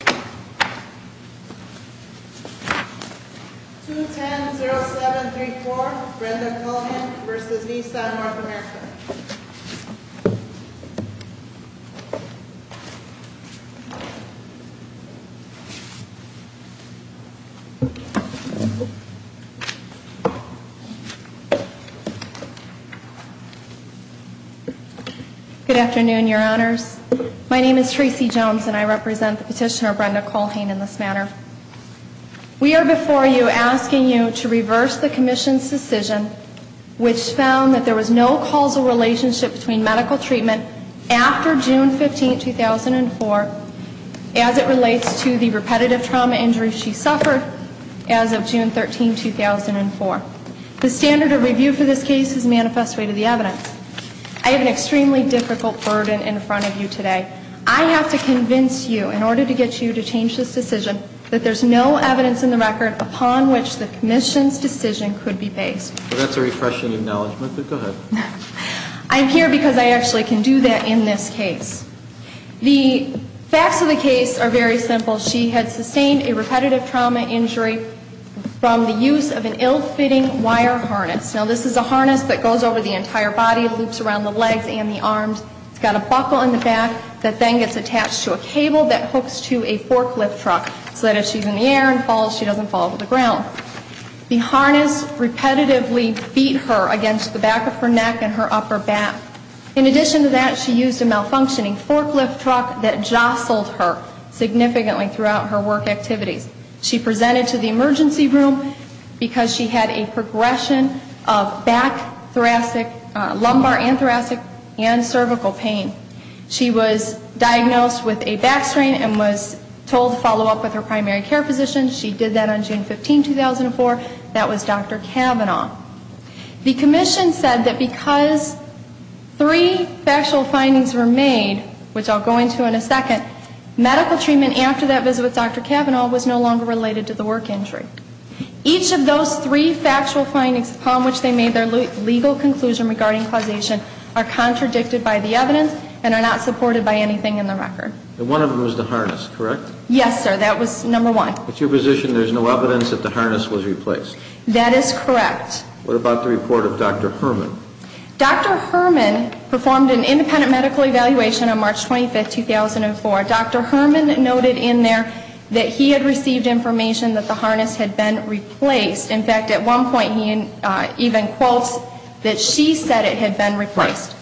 210-0734 Brenda Cullinan v. Nissan, North America Good afternoon, your honors. My name is Tracy Jones, and I represent the petitioner, Brenda Cullhane, in this matter. We are before you asking you to reverse the commission's decision, which found that there was no causal relationship between medical treatment after June 15, 2004, as it relates to the repetitive trauma injury she suffered as of June 13, 2004. The standard of review for this case is manifest rate of the evidence. I have an extremely difficult burden in front of you today. I have to convince you, in order to get you to change this decision, that there's no evidence in the record upon which the commission's decision could be based. That's a refreshing acknowledgment, but go ahead. I'm here because I actually can do that in this case. The facts of the case are very simple. She had sustained a repetitive trauma injury from the use of an ill-fitting wire harness. Now, this is a harness that goes over the entire body, loops around the legs and the arms. It's got a buckle in the back that then gets attached to a cable that hooks to a forklift truck so that if she's in the air and falls, she doesn't fall to the ground. The harness repetitively beat her against the back of her neck and her upper back. In addition to that, she used a malfunctioning forklift truck that jostled her significantly throughout her work activities. She presented to the emergency room because she had a progression of back thoracic, lumbar and thoracic, and cervical pain. She was diagnosed with a back strain and was told to follow up with her primary care physician. She did that on June 15, 2004. That was Dr. Cavanaugh. The commission said that because three factual findings were made, which I'll go into in a second, medical treatment after that visit with Dr. Cavanaugh was no longer related to the work injury. Each of those three factual findings upon which they made their legal conclusion regarding causation are contradicted by the evidence and are not supported by anything in the record. And one of them was the harness, correct? Yes, sir. That was number one. It's your position there's no evidence that the harness was replaced. That is correct. What about the report of Dr. Herman? Dr. Herman performed an independent medical evaluation on March 25, 2004. Dr. Herman noted in there that he had received information that the harness had been replaced. In fact, at one point, he even quotes that she said it had been replaced.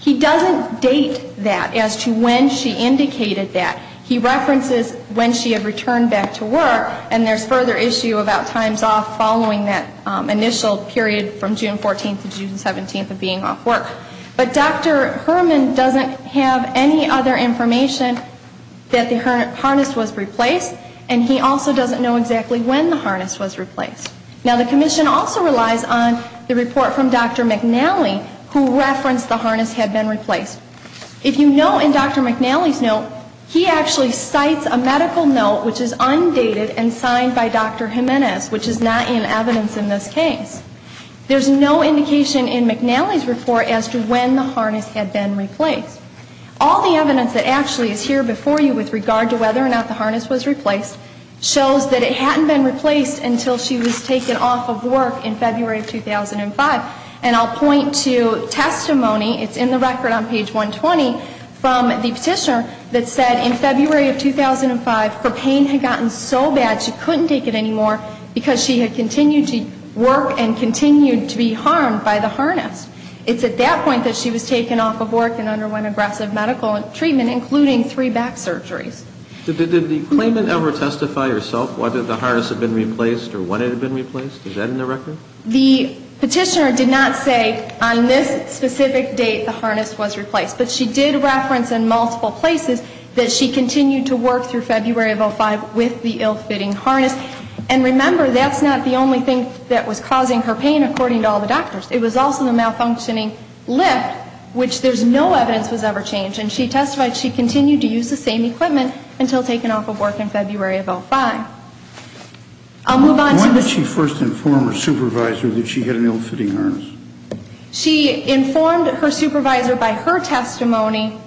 He doesn't date that as to when she indicated that. He references when she had returned back to work. And there's further issue about times off following that initial period from June 14 to June 17 of being off work. But Dr. Herman doesn't have any other information that the harness was replaced. And he also doesn't know exactly when the harness was replaced. Now, the commission also relies on the report from Dr. McNally, who referenced the harness had been replaced. If you know in Dr. McNally's note, he actually cites a medical note which is undated and signed by Dr. Jimenez, which is not in evidence in this case. There's no indication in McNally's report as to when the harness had been replaced. All the evidence that actually is here before you with regard to whether or not the harness was replaced shows that it hadn't been replaced until she was taken off of work in February of 2005. And I'll point to testimony. It's in the record on page 120 from the petitioner that said in February of 2005, her pain had gotten so bad she couldn't take it anymore because she had continued to work and continued to be harmed by the harness. It's at that point that she was taken off of work and underwent aggressive medical treatment, including three back surgeries. Did the claimant ever testify herself whether the harness had been replaced or when it had been replaced? Is that in the record? The petitioner did not say on this specific date the harness was replaced. But she did reference in multiple places that she continued to work through February of 2005 with the ill-fitting harness. And remember, that's not the only thing that was causing her pain according to all the doctors. It was also the malfunctioning lift, which there's no evidence was ever changed. She testified she continued to use the same equipment until taken off of work in February of 2005. I'll move on to this. When did she first inform her supervisor that she had an ill-fitting harness? She informed her supervisor by her testimony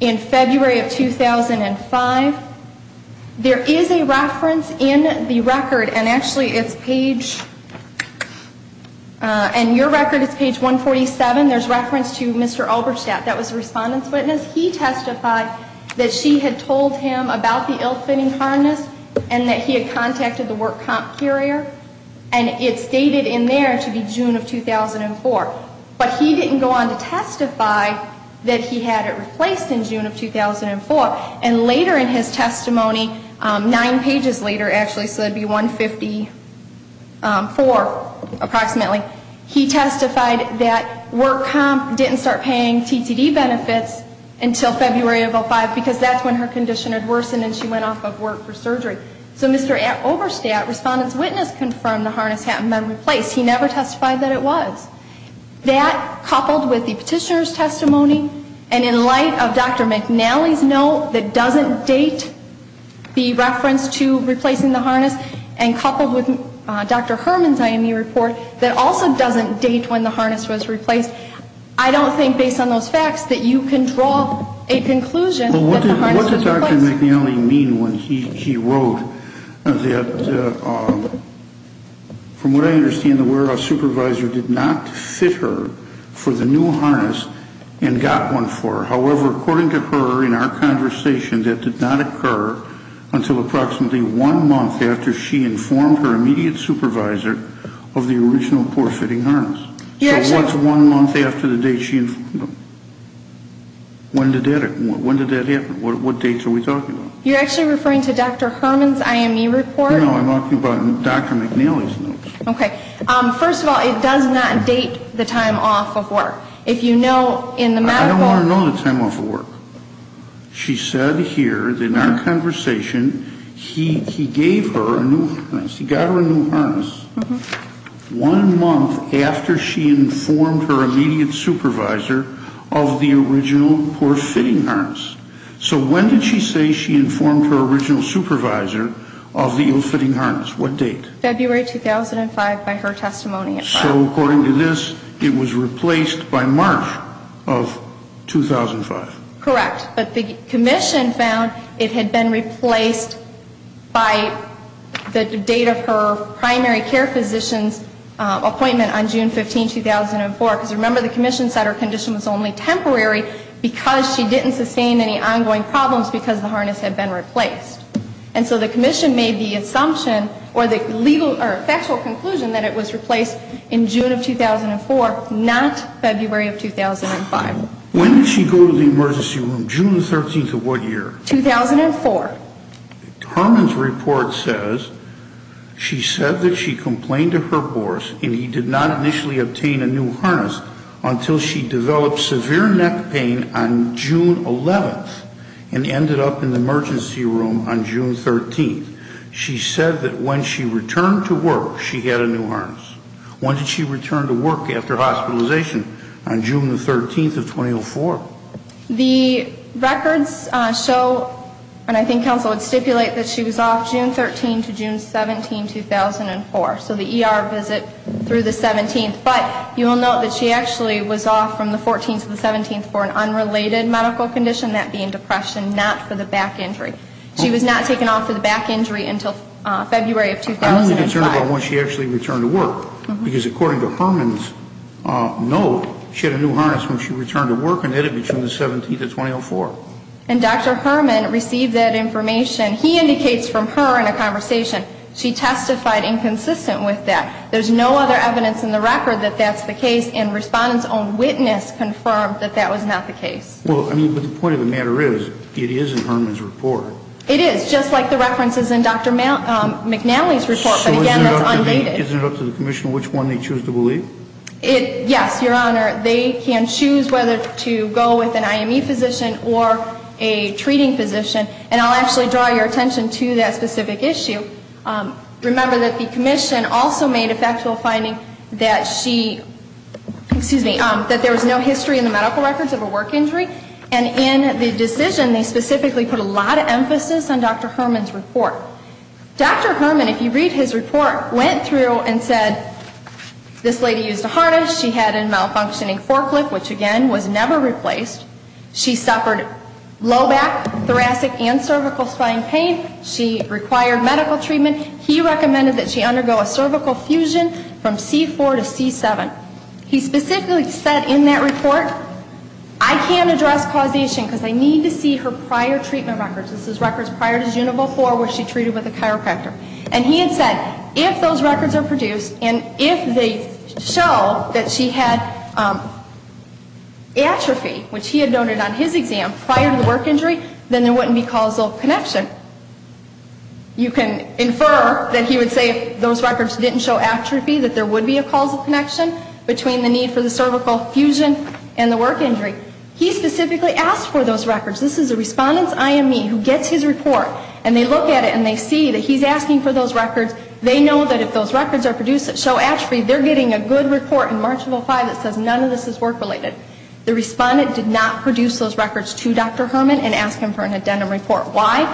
in February of 2005. There is a reference in the record. And actually, it's page 147. There's reference to Mr. Alberstadt. That was a respondent's witness. He testified that she had told him about the ill-fitting harness and that he had contacted the work comp carrier. And it's dated in there to be June of 2004. But he didn't go on to testify that he had it replaced in June of 2004. And later in his testimony, nine pages later actually, so that would be 154 approximately, he testified that work comp didn't start paying TTD benefits until February of 2005, because that's when her condition had worsened and she went off of work for surgery. So Mr. Alberstadt, respondent's witness, confirmed the harness had been replaced. He never testified that it was. That, coupled with the petitioner's testimony, and in light of Dr. McNally's note that doesn't date the reference to replacing the harness, and coupled with Dr. Herman's IME report, that also doesn't date when the harness was replaced. I don't think, based on those facts, that you can draw a conclusion that the harness was replaced. Well, what did Dr. McNally mean when he wrote that, from what I understand, the warehouse supervisor did not fit her for the new harness and got one for her. However, according to her, in our conversation, that did not occur until approximately one month after she informed her immediate supervisor of the original poor-fitting harness. So what's one month after the date she informed them? When did that happen, what dates are we talking about? You're actually referring to Dr. Herman's IME report? No, I'm talking about Dr. McNally's note. Okay, first of all, it does not date the time off of work. If you know, in the medical- I don't wanna know the time off of work. She said here, in our conversation, he gave her a new harness, he got her a new harness, one month after she informed her immediate supervisor of the original poor-fitting harness. So when did she say she informed her original supervisor of the ill-fitting harness, what date? February 2005, by her testimony. So, according to this, it was replaced by March of 2005. Correct, but the commission found it had been replaced by the date of her primary care physician's appointment on June 15, 2004. Because remember, the commission said her condition was only temporary because she didn't sustain any ongoing problems because the harness had been replaced. And so the commission made the assumption, or the factual conclusion, that it was replaced in June of 2004, not February of 2005. When did she go to the emergency room, June 13th of what year? 2004. Herman's report says she said that she complained to her boss and he did not initially obtain a new harness until she developed severe neck pain on June 11th and ended up in the emergency room on June 13th. She said that when she returned to work, she had a new harness. When did she return to work after hospitalization? On June 13th of 2004. The records show, and I think counsel would stipulate, that she was off June 13th to June 17th, 2004. So the ER visit through the 17th. But you will note that she actually was off from the 14th to the 17th for an unrelated medical condition, that being depression, not for the back injury. She was not taken off for the back injury until February of 2005. I'm only concerned about when she actually returned to work. Because according to Herman's note, she had a new harness when she returned to work and had it between the 17th and 2004. And Dr. Herman received that information. He indicates from her in a conversation she testified inconsistent with that. There's no other evidence in the record that that's the case. And respondents' own witness confirmed that that was not the case. Well, I mean, but the point of the matter is it is in Herman's report. It is, just like the references in Dr. McNally's report. But again, it's unbated. Isn't it up to the commission which one they choose to believe? Yes, Your Honor. They can choose whether to go with an IME physician or a treating physician. And I'll actually draw your attention to that specific issue. Remember that the commission also made a factual finding that she, excuse me, that there was no history in the medical records of a work injury. And in the decision, they specifically put a lot of emphasis on Dr. Herman's report. Dr. Herman, if you read his report, went through and said, this lady used a harness. She had a malfunctioning forklift, which, again, was never replaced. She suffered low back, thoracic, and cervical spine pain. She required medical treatment. He recommended that she undergo a cervical fusion from C4 to C7. He specifically said in that report, I can't address causation because I need to see her prior treatment records. This is records prior to June of 04 where she treated with a chiropractor. And he had said, if those records are produced, and if they show that she had atrophy, which he had noted on his exam, prior to the work injury, then there wouldn't be causal connection. You can infer that he would say, if those records didn't show atrophy, that there would be a causal connection between the need for the cervical fusion and the work injury. He specifically asked for those records. This is a respondent's IME who gets his report. And they look at it, and they see that he's asking for those records. They know that if those records show atrophy, they're getting a good report in March of 05 that says none of this is work related. The respondent did not produce those records to Dr. Herman and ask him for an addendum report. Why?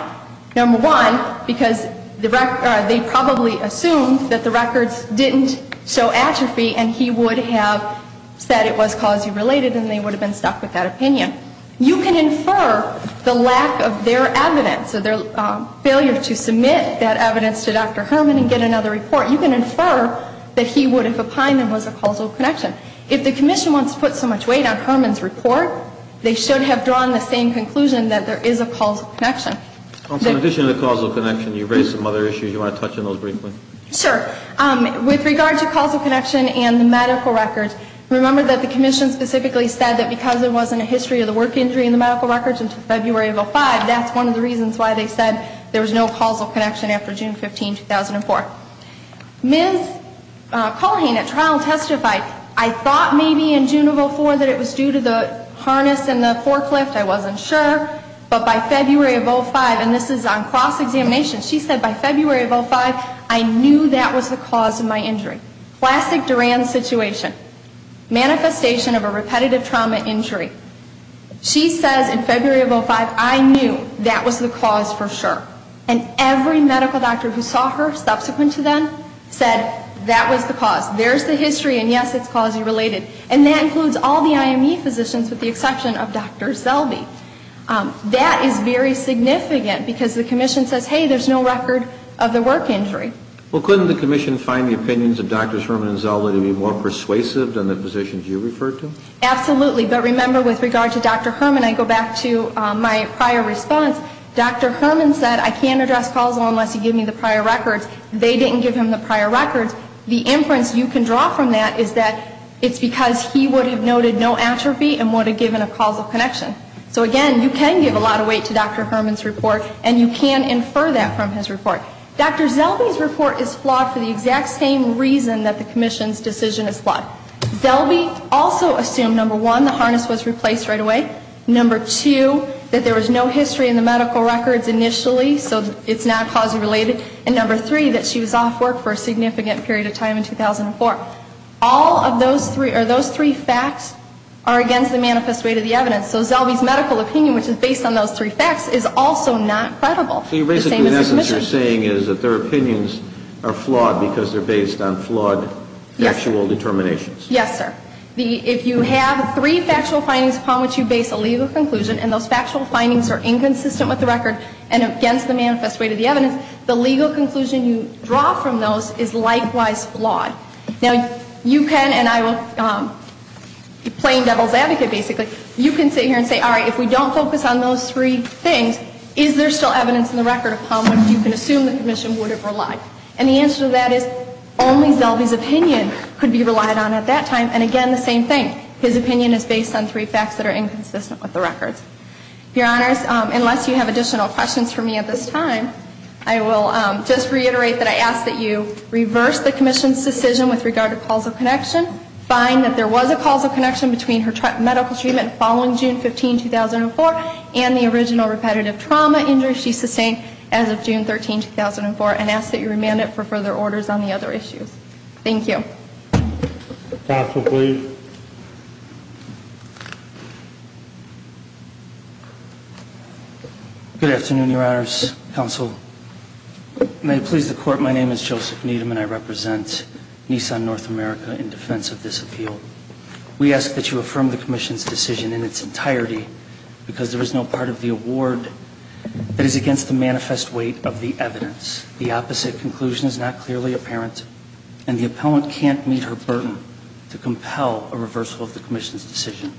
Number one, because they probably assumed that the records didn't show atrophy, and he would have said it was causally related, and they would have been stuck with that opinion. You can infer the lack of their evidence, so their failure to submit that evidence to Dr. Herman and get another report, you can infer that he would have opined that it was a causal connection. If the commission wants to put so much weight on Herman's report, they should have drawn the same conclusion that there is a causal connection. In addition to the causal connection, you raised some other issues. You want to touch on those briefly? Sure. With regard to causal connection and the medical records, remember that the commission specifically said that because there wasn't a history of the work injury in the medical records until February of 05, that's one of the reasons why they said there was no causal connection after June 15, 2004. Ms. Culhane at trial testified, I thought maybe in June of 04 that it was due to the harness and the forklift. I wasn't sure. But by February of 05, and this is on cross-examination, she said by February of 05, I knew that was the cause of my injury. Classic Duran situation. Manifestation of a repetitive trauma injury. She says in February of 05, I knew that was the cause for sure. And every medical doctor who saw her subsequent to them said that was the cause. There's the history, and yes, it's causally related. And that includes all the IME physicians with the exception of Dr. Zellwey. That is very significant because the commission says, hey, there's no record of the work injury. Well, couldn't the commission find the opinions of Drs. Herman and Zellwey to be more persuasive than the physicians you referred to? Absolutely. But remember, with regard to Dr. Herman, I go back to my prior response. Dr. Herman said, I can't address causal unless you give me the prior records. They didn't give him the prior records. The inference you can draw from that is that it's because he would have noted no atrophy and would have given a causal connection. So again, you can give a lot of weight to Dr. Herman's report, and you can infer that from his report. Dr. Zellwey's report is flawed for the exact same reason that the commission's decision is flawed. Zellwey also assumed, number one, the harness was replaced right away. Number two, that there was no history in the medical records initially, so it's not causally related. And number three, that she was off work for a significant period of time in 2004. All of those three facts are against the manifest weight of the evidence. So Zellwey's medical opinion, which is based on those three facts, is also not credible. So basically, in essence, you're saying is that their opinions are flawed because they're based on flawed factual determinations? Yes, sir. If you have three factual findings upon which you base a legal conclusion, and those factual findings are inconsistent with the record and against the manifest weight of the evidence, the legal conclusion you draw from those is likewise flawed. Now, you can, and I will be plain devil's advocate, basically, you can sit here and say, all right, if we don't focus on those three things, is there still evidence in the record upon which you can assume the commission would have relied? And the answer to that is, only Zellwey's opinion could be relied on at that time. And again, the same thing. His opinion is based on three facts that are inconsistent with the records. Your Honors, unless you have additional questions for me at this time, I will just reiterate that I ask that you reverse the commission's decision with regard to causal connection. Find that there was a causal connection between her medical treatment following June 15, 2004 and the original repetitive trauma injury she sustained as of June 13, 2004, and ask that you remand it for further orders on the other issues. Thank you. Counsel, please. Good afternoon, Your Honors. Counsel, may it please the court, my name is Joseph Needham, and I represent Nissan North America in defense of this appeal. We ask that you affirm the commission's decision in its entirety, because there is no part of the award that is against the manifest weight of the evidence, the opposite conclusion is not clearly apparent, and the appellant can't meet her burden to compel a reversal of the commission's decision.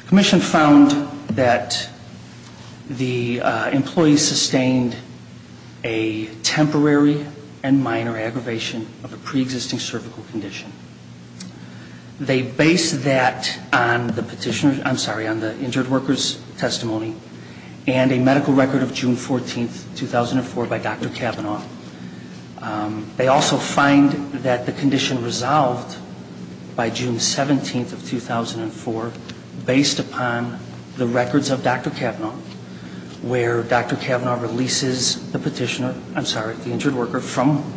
The commission found that the employee sustained a temporary and minor aggravation of a pre-existing cervical condition. They base that on the petitioner's, I'm sorry, on the injured worker's testimony, and a medical record of June 14, 2004 by Dr. Kavanaugh. They also find that the condition resolved by June 17 of 2004, based upon the records of Dr. Kavanaugh, where Dr. Kavanaugh releases the injured worker from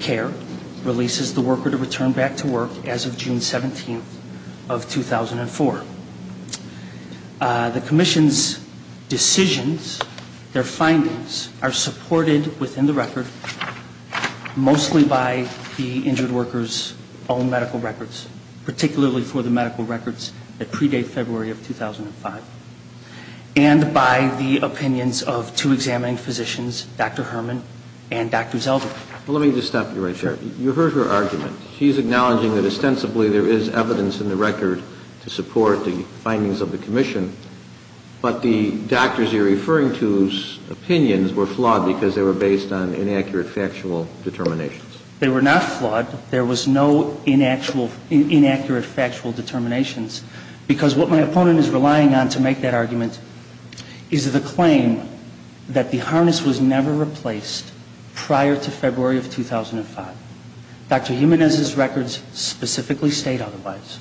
care, releases the worker to return back to work as of June 17 of 2004. The commission's decisions, their findings, are supported within the record, mostly by the injured worker's own medical records, particularly for the medical records that predate February of 2005, and by the opinions of two examining physicians, Dr. Herman and Dr. Zelder. Well, let me just stop you right there. You heard her argument. She's acknowledging that ostensibly there is evidence in the record to support the findings of the commission, but the doctors you're referring to's opinions were flawed because they were based on inaccurate factual determinations. They were not flawed. There was no inaccurate factual determinations. Because what my opponent is relying on to make that argument is the claim that the harness was never replaced prior to February of 2005. Dr. Jimenez's records specifically state otherwise.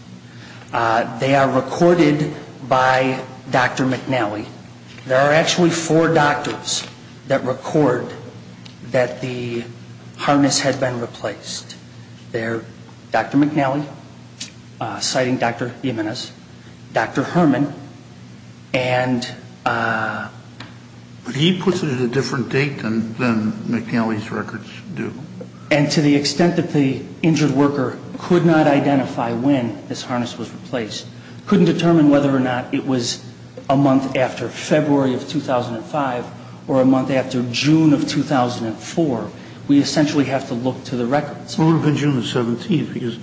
They are recorded by Dr. McNally. There are actually four doctors that record that the harness had been replaced. They're Dr. McNally, citing Dr. Jimenez, Dr. Herman, and uh... He puts it at a different date than McNally's records do. And to the extent that the injured worker could not identify when this harness was replaced, couldn't determine whether or not it was a month after February of 2005 or a month after June of 2004, we essentially have to look to the records. Well, it would have been June the 17th because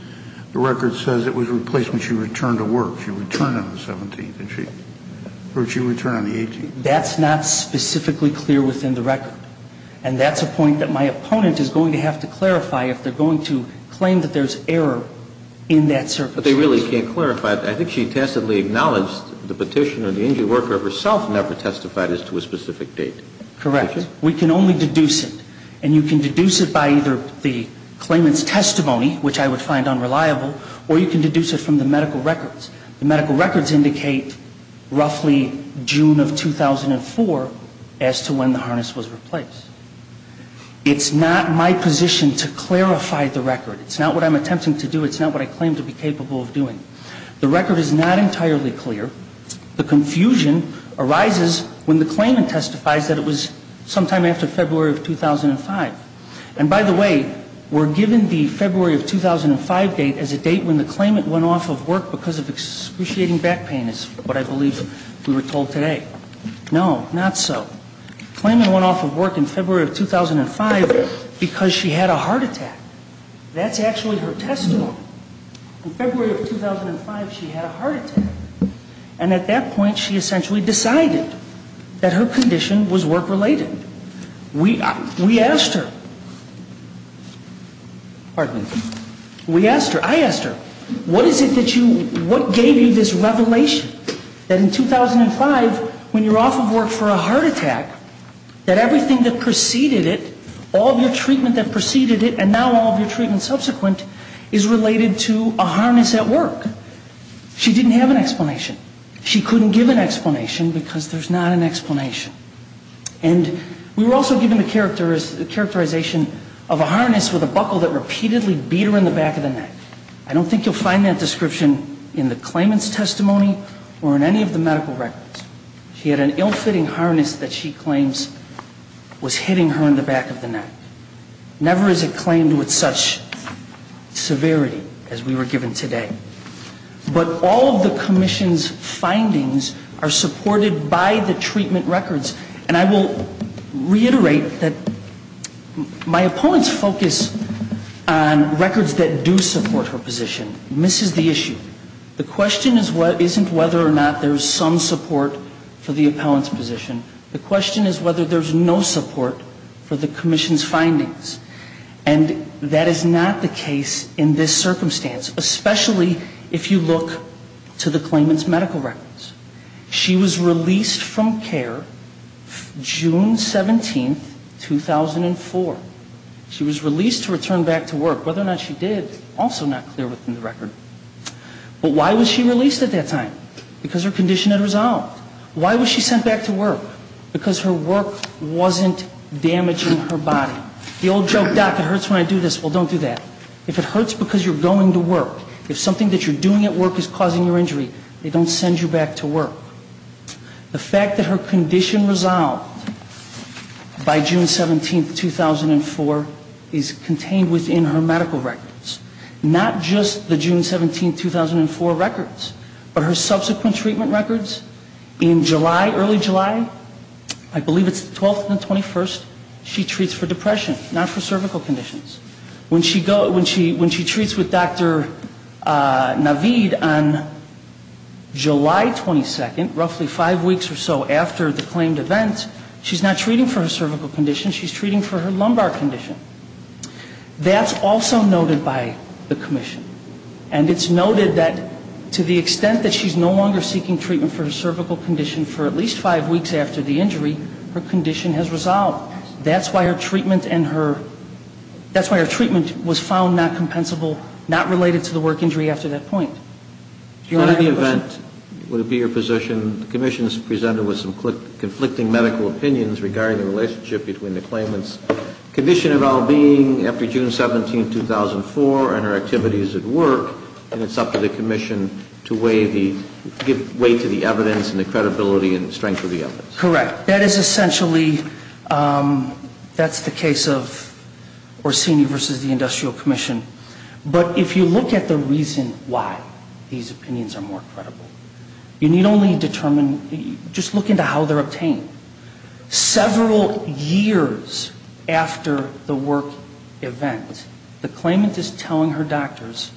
the record says it was replaced when she returned to work. She returned on the 17th, didn't she? Or did she return on the 18th? That's not specifically clear within the record. And that's a point that my opponent is going to have to clarify if they're going to claim that there's error in that circumstance. But they really can't clarify. I think she tacitly acknowledged the petitioner, the injured worker herself never testified as to a specific date. Correct. We can only deduce it. And you can deduce it by either the claimant's testimony, which I would find unreliable, or you can deduce it from the medical records. The medical records indicate roughly June of 2004 as to when the harness was replaced. It's not my position to clarify the record. It's not what I'm attempting to do. It's not what I claim to be capable of doing. The record is not entirely clear. The confusion arises when the claimant testifies that it was sometime after February of 2005. And by the way, we're given the February of 2005 date as a date when the claimant went off of work because of excruciating back pain, is what I believe we were told today. No, not so. Claimant went off of work in February of 2005 because she had a heart attack. That's actually her testimony. In February of 2005, she had a heart attack. And at that point, she essentially decided that her condition was work-related. We asked her, pardon me, we asked her, I asked her, what is it that you, what gave you this revelation that in 2005, when you're off of work for a heart attack, that everything that preceded it, all of your treatment that preceded it, and now all of your treatment subsequent, is related to a harness at work? She didn't have an explanation. She couldn't give an explanation because there's not an explanation. And we were also given the characterization of a harness with a buckle that repeatedly beat her in the back of the neck. I don't think you'll find that description in the claimant's or in any of the medical records. She had an ill-fitting harness that she claims was hitting her in the back of the neck. Never is it claimed with such severity as we were given today. But all of the commission's findings are supported by the treatment records. And I will reiterate that my opponent's focus on records that do support her position misses the issue. The question isn't whether or not there's some support for the appellant's position. The question is whether there's no support for the commission's findings. And that is not the case in this circumstance, especially if you look to the claimant's medical records. She was released from care June 17, 2004. She was released to return back to work. Whether or not she did is also not clear within the record. But why was she released at that time? Because her condition had resolved. Why was she sent back to work? Because her work wasn't damaging her body. The old joke, doc, it hurts when I do this. Well, don't do that. If it hurts because you're going to work, if something that you're doing at work is causing your injury, they don't send you back to work. The fact that her condition resolved by June 17, 2004 is contained within her medical records. Not just the June 17, 2004 records, but her subsequent treatment records in July, early July, I believe it's the 12th and the 21st, she treats for depression, not for cervical conditions. When she treats with Dr. Navid on July 22nd, roughly five weeks or so after the claimed event, she's not treating for her cervical condition. She's treating for her lumbar condition. That's also noted by the commission. And it's noted that to the extent that she's no longer seeking treatment for her cervical condition for at least five weeks after the injury, her condition has resolved. That's why her treatment and her, that's why her treatment was found not compensable, not related to the work injury after that point. Your Honor, I have a question. Would it be your position, the commission's presented with some conflicting medical opinions regarding the relationship between the claimant's condition of well-being after June 17, 2004 and her activities at work, and it's up to the commission to weigh to the evidence and the credibility and strength of the evidence? Correct. That is essentially, that's the case of Orsini versus the Industrial Commission. But if you look at the reason why these opinions are more credible, you need only determine, just look into how they're obtained. Several years after the work event, the claimant is telling her doctors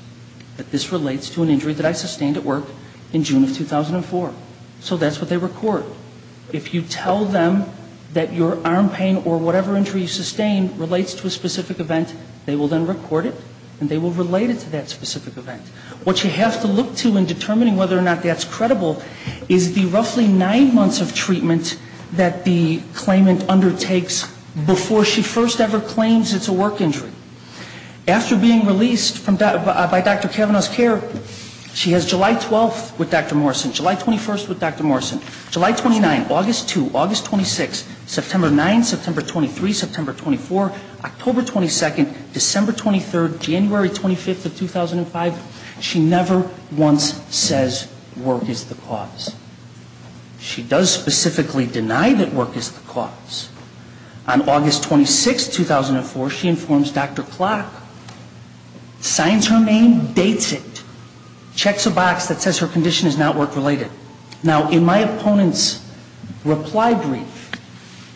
that this relates to an injury that I sustained at work in June of 2004. So that's what they record. If you tell them that your arm pain or whatever injury you sustained relates to a specific event, they will then record it, and they will relate it to that specific event. What you have to look to in determining whether or not that's credible is the roughly nine months of treatment that the claimant undertakes before she first ever claims it's a work injury. After being released by Dr. Kavanaugh's care, she has July 12 with Dr. Morrison, July 21 with Dr. Morrison, July 29, August 2, August 26, September 9, September 23, September 24, October 22, December 23, January 25 of 2005. She never once says work is the cause. She does specifically deny that work is the cause. On August 26, 2004, she informs Dr. Klock, signs her name, dates it, checks a box that says her condition is not work-related. Now, in my opponent's reply brief,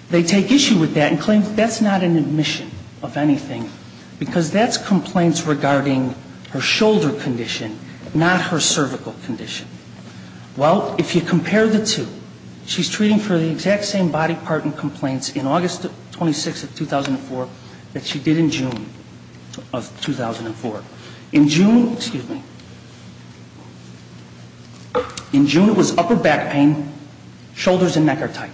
they take issue with that and claim that's not an admission of anything, because that's complaints regarding her shoulder condition, not her cervical condition. Well, if you compare the two, she's treating for the exact same body part and complaints in August 26 of 2004 that she did in June of 2004. In June, it was upper back pain, shoulders and neck are tight.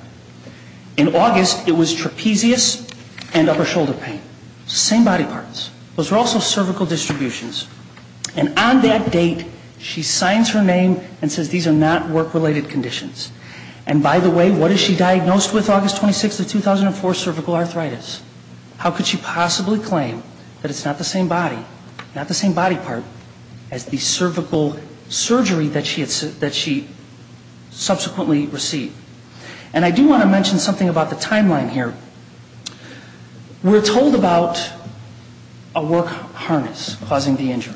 In August, it was trapezius and upper shoulder pain. Same body parts. Those were also cervical distributions. And on that date, she signs her name and says these are not work-related conditions. And by the way, what is she diagnosed with August 26 of 2004? Cervical arthritis. How could she possibly claim that it's not the same body, not the same body part as the cervical surgery that she subsequently received? And I do want to mention something about the timeline here. We're told about a work harness causing the injury.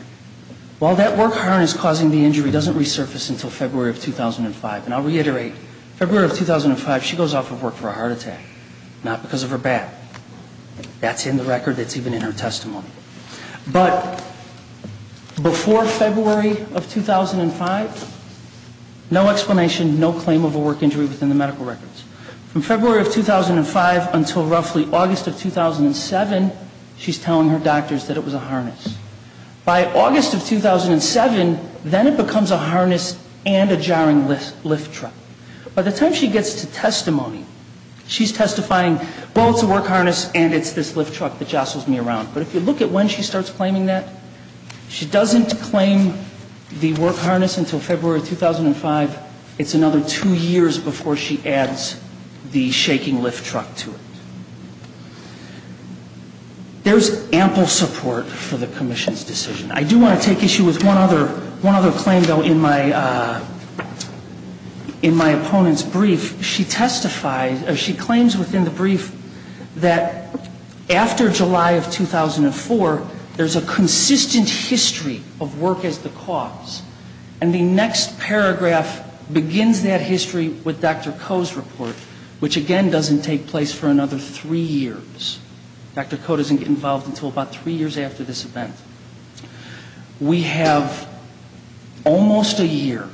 Well, that work harness causing the injury doesn't resurface until February of 2005. And I'll reiterate, February of 2005, she goes off of work for a heart attack, not because of her back. That's in the record. That's even in her testimony. But before February of 2005, no explanation, no claim of a work injury within the medical records. From February of 2005 until roughly August of 2007, she's telling her doctors that it was a harness. By August of 2007, then it becomes a harness and a jarring lift truck. By the time she gets to testimony, she's testifying, well, it's a work harness and it's this lift truck that jostles me around. But if you look at when she starts claiming that, she doesn't claim the work harness until February 2005. It's another two years before she adds the shaking lift truck to it. There's ample support for the commission's decision. I do want to take issue with one other claim, though. In my opponent's brief, she claims within the brief that after July of 2004, there's a consistent history of work as the cause. And the next paragraph begins that history with Dr. Koh's report, which again doesn't take place for another three years. Dr. Koh doesn't get involved until about three years after this event. We have almost a year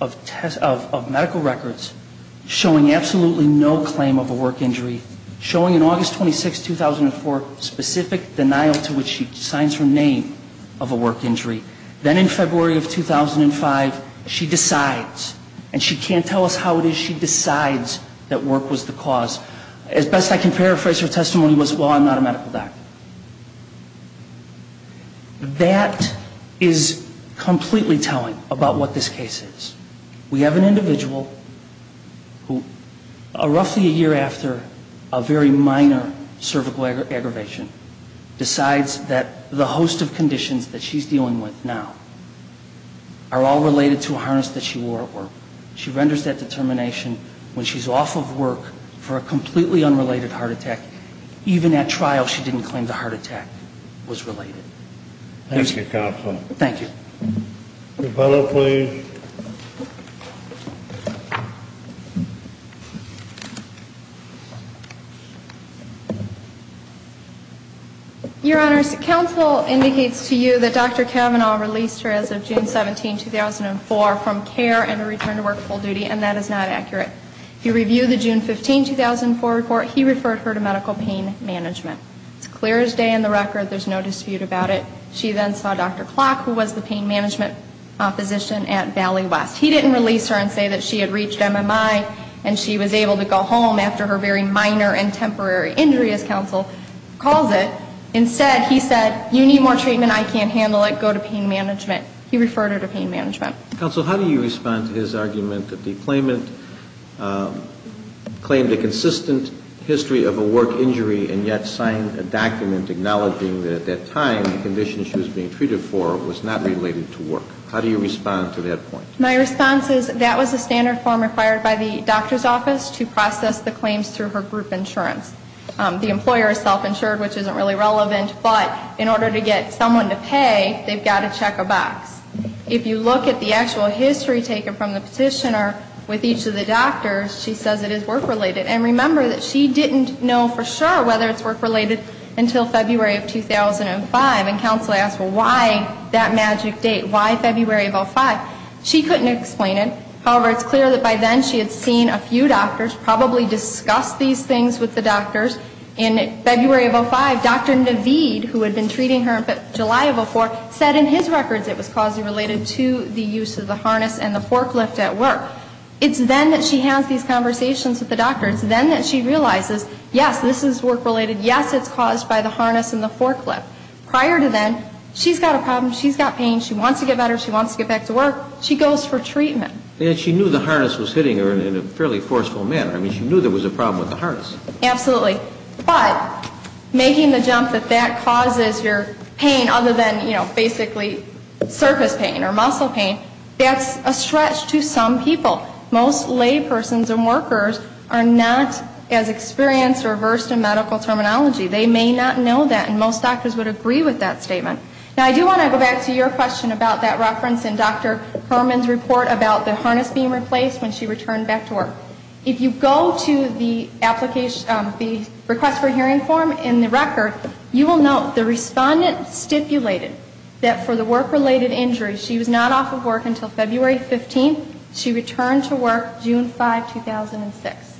of medical records showing absolutely no claim of a work injury, showing in August 26, 2004, specific denial to which she signs her name of a work injury. Then in February of 2005, she decides. And she can't tell us how it is she decides that work was the cause. As best I can paraphrase her testimony was, well, I'm not a medical doctor. That is completely telling about what this case is. We have an individual who, roughly a year after a very minor cervical aggravation, decides that the host of conditions that she's dealing with now are all related to a harness that she wore at work. She renders that determination when completely unrelated heart attack. Even at trial, she didn't claim the heart attack was related. Thank you, counsel. Thank you. Your bill, please. Your Honors, counsel indicates to you that Dr. Kavanaugh released her as of June 17, 2004 from care and returned to work full duty, and that is not accurate. If you review the June 15, 2004 report, he referred her to medical pain management. It's clear as day in the record. There's no dispute about it. She then saw Dr. Klock, who was the pain management physician at Valley West. He didn't release her and say that she had reached MMI and she was able to go home after her very minor and temporary injury, as counsel calls it. Instead, he said, you need more treatment. I can't handle it. Go to pain management. He referred her to pain management. Counsel, how do you respond to his argument that the claimant claimed a consistent history of a work injury and yet signed a document acknowledging that at that time, the condition she was being treated for was not related to work? How do you respond to that point? My response is that was a standard form required by the doctor's office to process the claims through her group insurance. The employer is self-insured, which isn't really relevant. But in order to get someone to pay, they've got to check a box. If you look at the actual history taken from the petition, or with each of the doctors, she says it is work-related. And remember that she didn't know for sure whether it's work-related until February of 2005. And counsel asked, well, why that magic date? Why February of 05? She couldn't explain it. However, it's clear that by then, she had seen a few doctors, probably discussed these things with the doctors. In February of 05, Dr. Naveed, who had been treating her in July of 04, said in his records it was causally related to the use of the harness and the forklift at work. It's then that she has these conversations with the doctor. It's then that she realizes, yes, this is work-related. Yes, it's caused by the harness and the forklift. Prior to then, she's got a problem. She's got pain. She wants to get better. She wants to get back to work. She goes for treatment. She knew the harness was hitting her in a fairly forceful manner. I mean, she knew there was a problem with the harness. Absolutely. But making the jump that that causes your pain, other than basically surface pain or muscle pain, that's a stretch to some people. Most laypersons and workers are not as experienced or versed in medical terminology. They may not know that, and most doctors would agree with that statement. Now, I do want to go back to your question about that reference in Dr. Herman's report about the harness being replaced when she returned back to work. If you go to the request for hearing form in the record, you will note the respondent stipulated that for the work-related injury, she was not off of work until February 15. She returned to work June 5, 2006.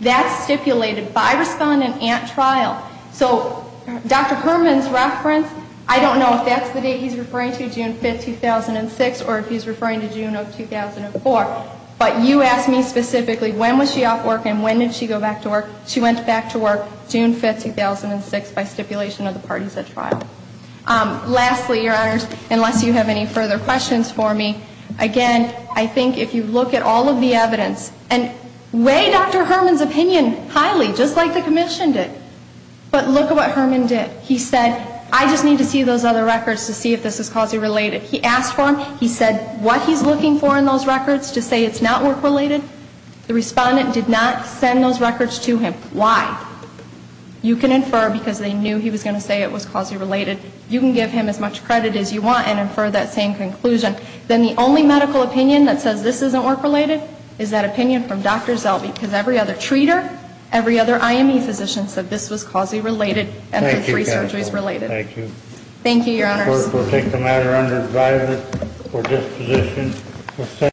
That's stipulated by respondent at trial. So Dr. Herman's reference, I don't know if that's the date he's referring to, June 5, 2006, or if he's referring to June of 2004. But you asked me specifically, when was she off work and when did she go back to work? by stipulation of the parties at trial. Lastly, your honors, unless you have any further questions for me, again, I think if you look at all of the evidence, and weigh Dr. Herman's opinion highly, just like the commission did. But look at what Herman did. He said, I just need to see those other records to see if this is quasi-related. He asked for them. He said what he's looking for in those records to say it's not work-related. The respondent did not send those records to him. Why? You can infer because they knew he was going to say it was quasi-related. You can give him as much credit as you want and infer that same conclusion. Then the only medical opinion that says this isn't work-related is that opinion from Dr. Zelby. Because every other treater, every other IME physician said this was quasi-related and the three surgeries related. Thank you. Thank you, your honors. We'll take the matter under advisement. We're just positioned to say.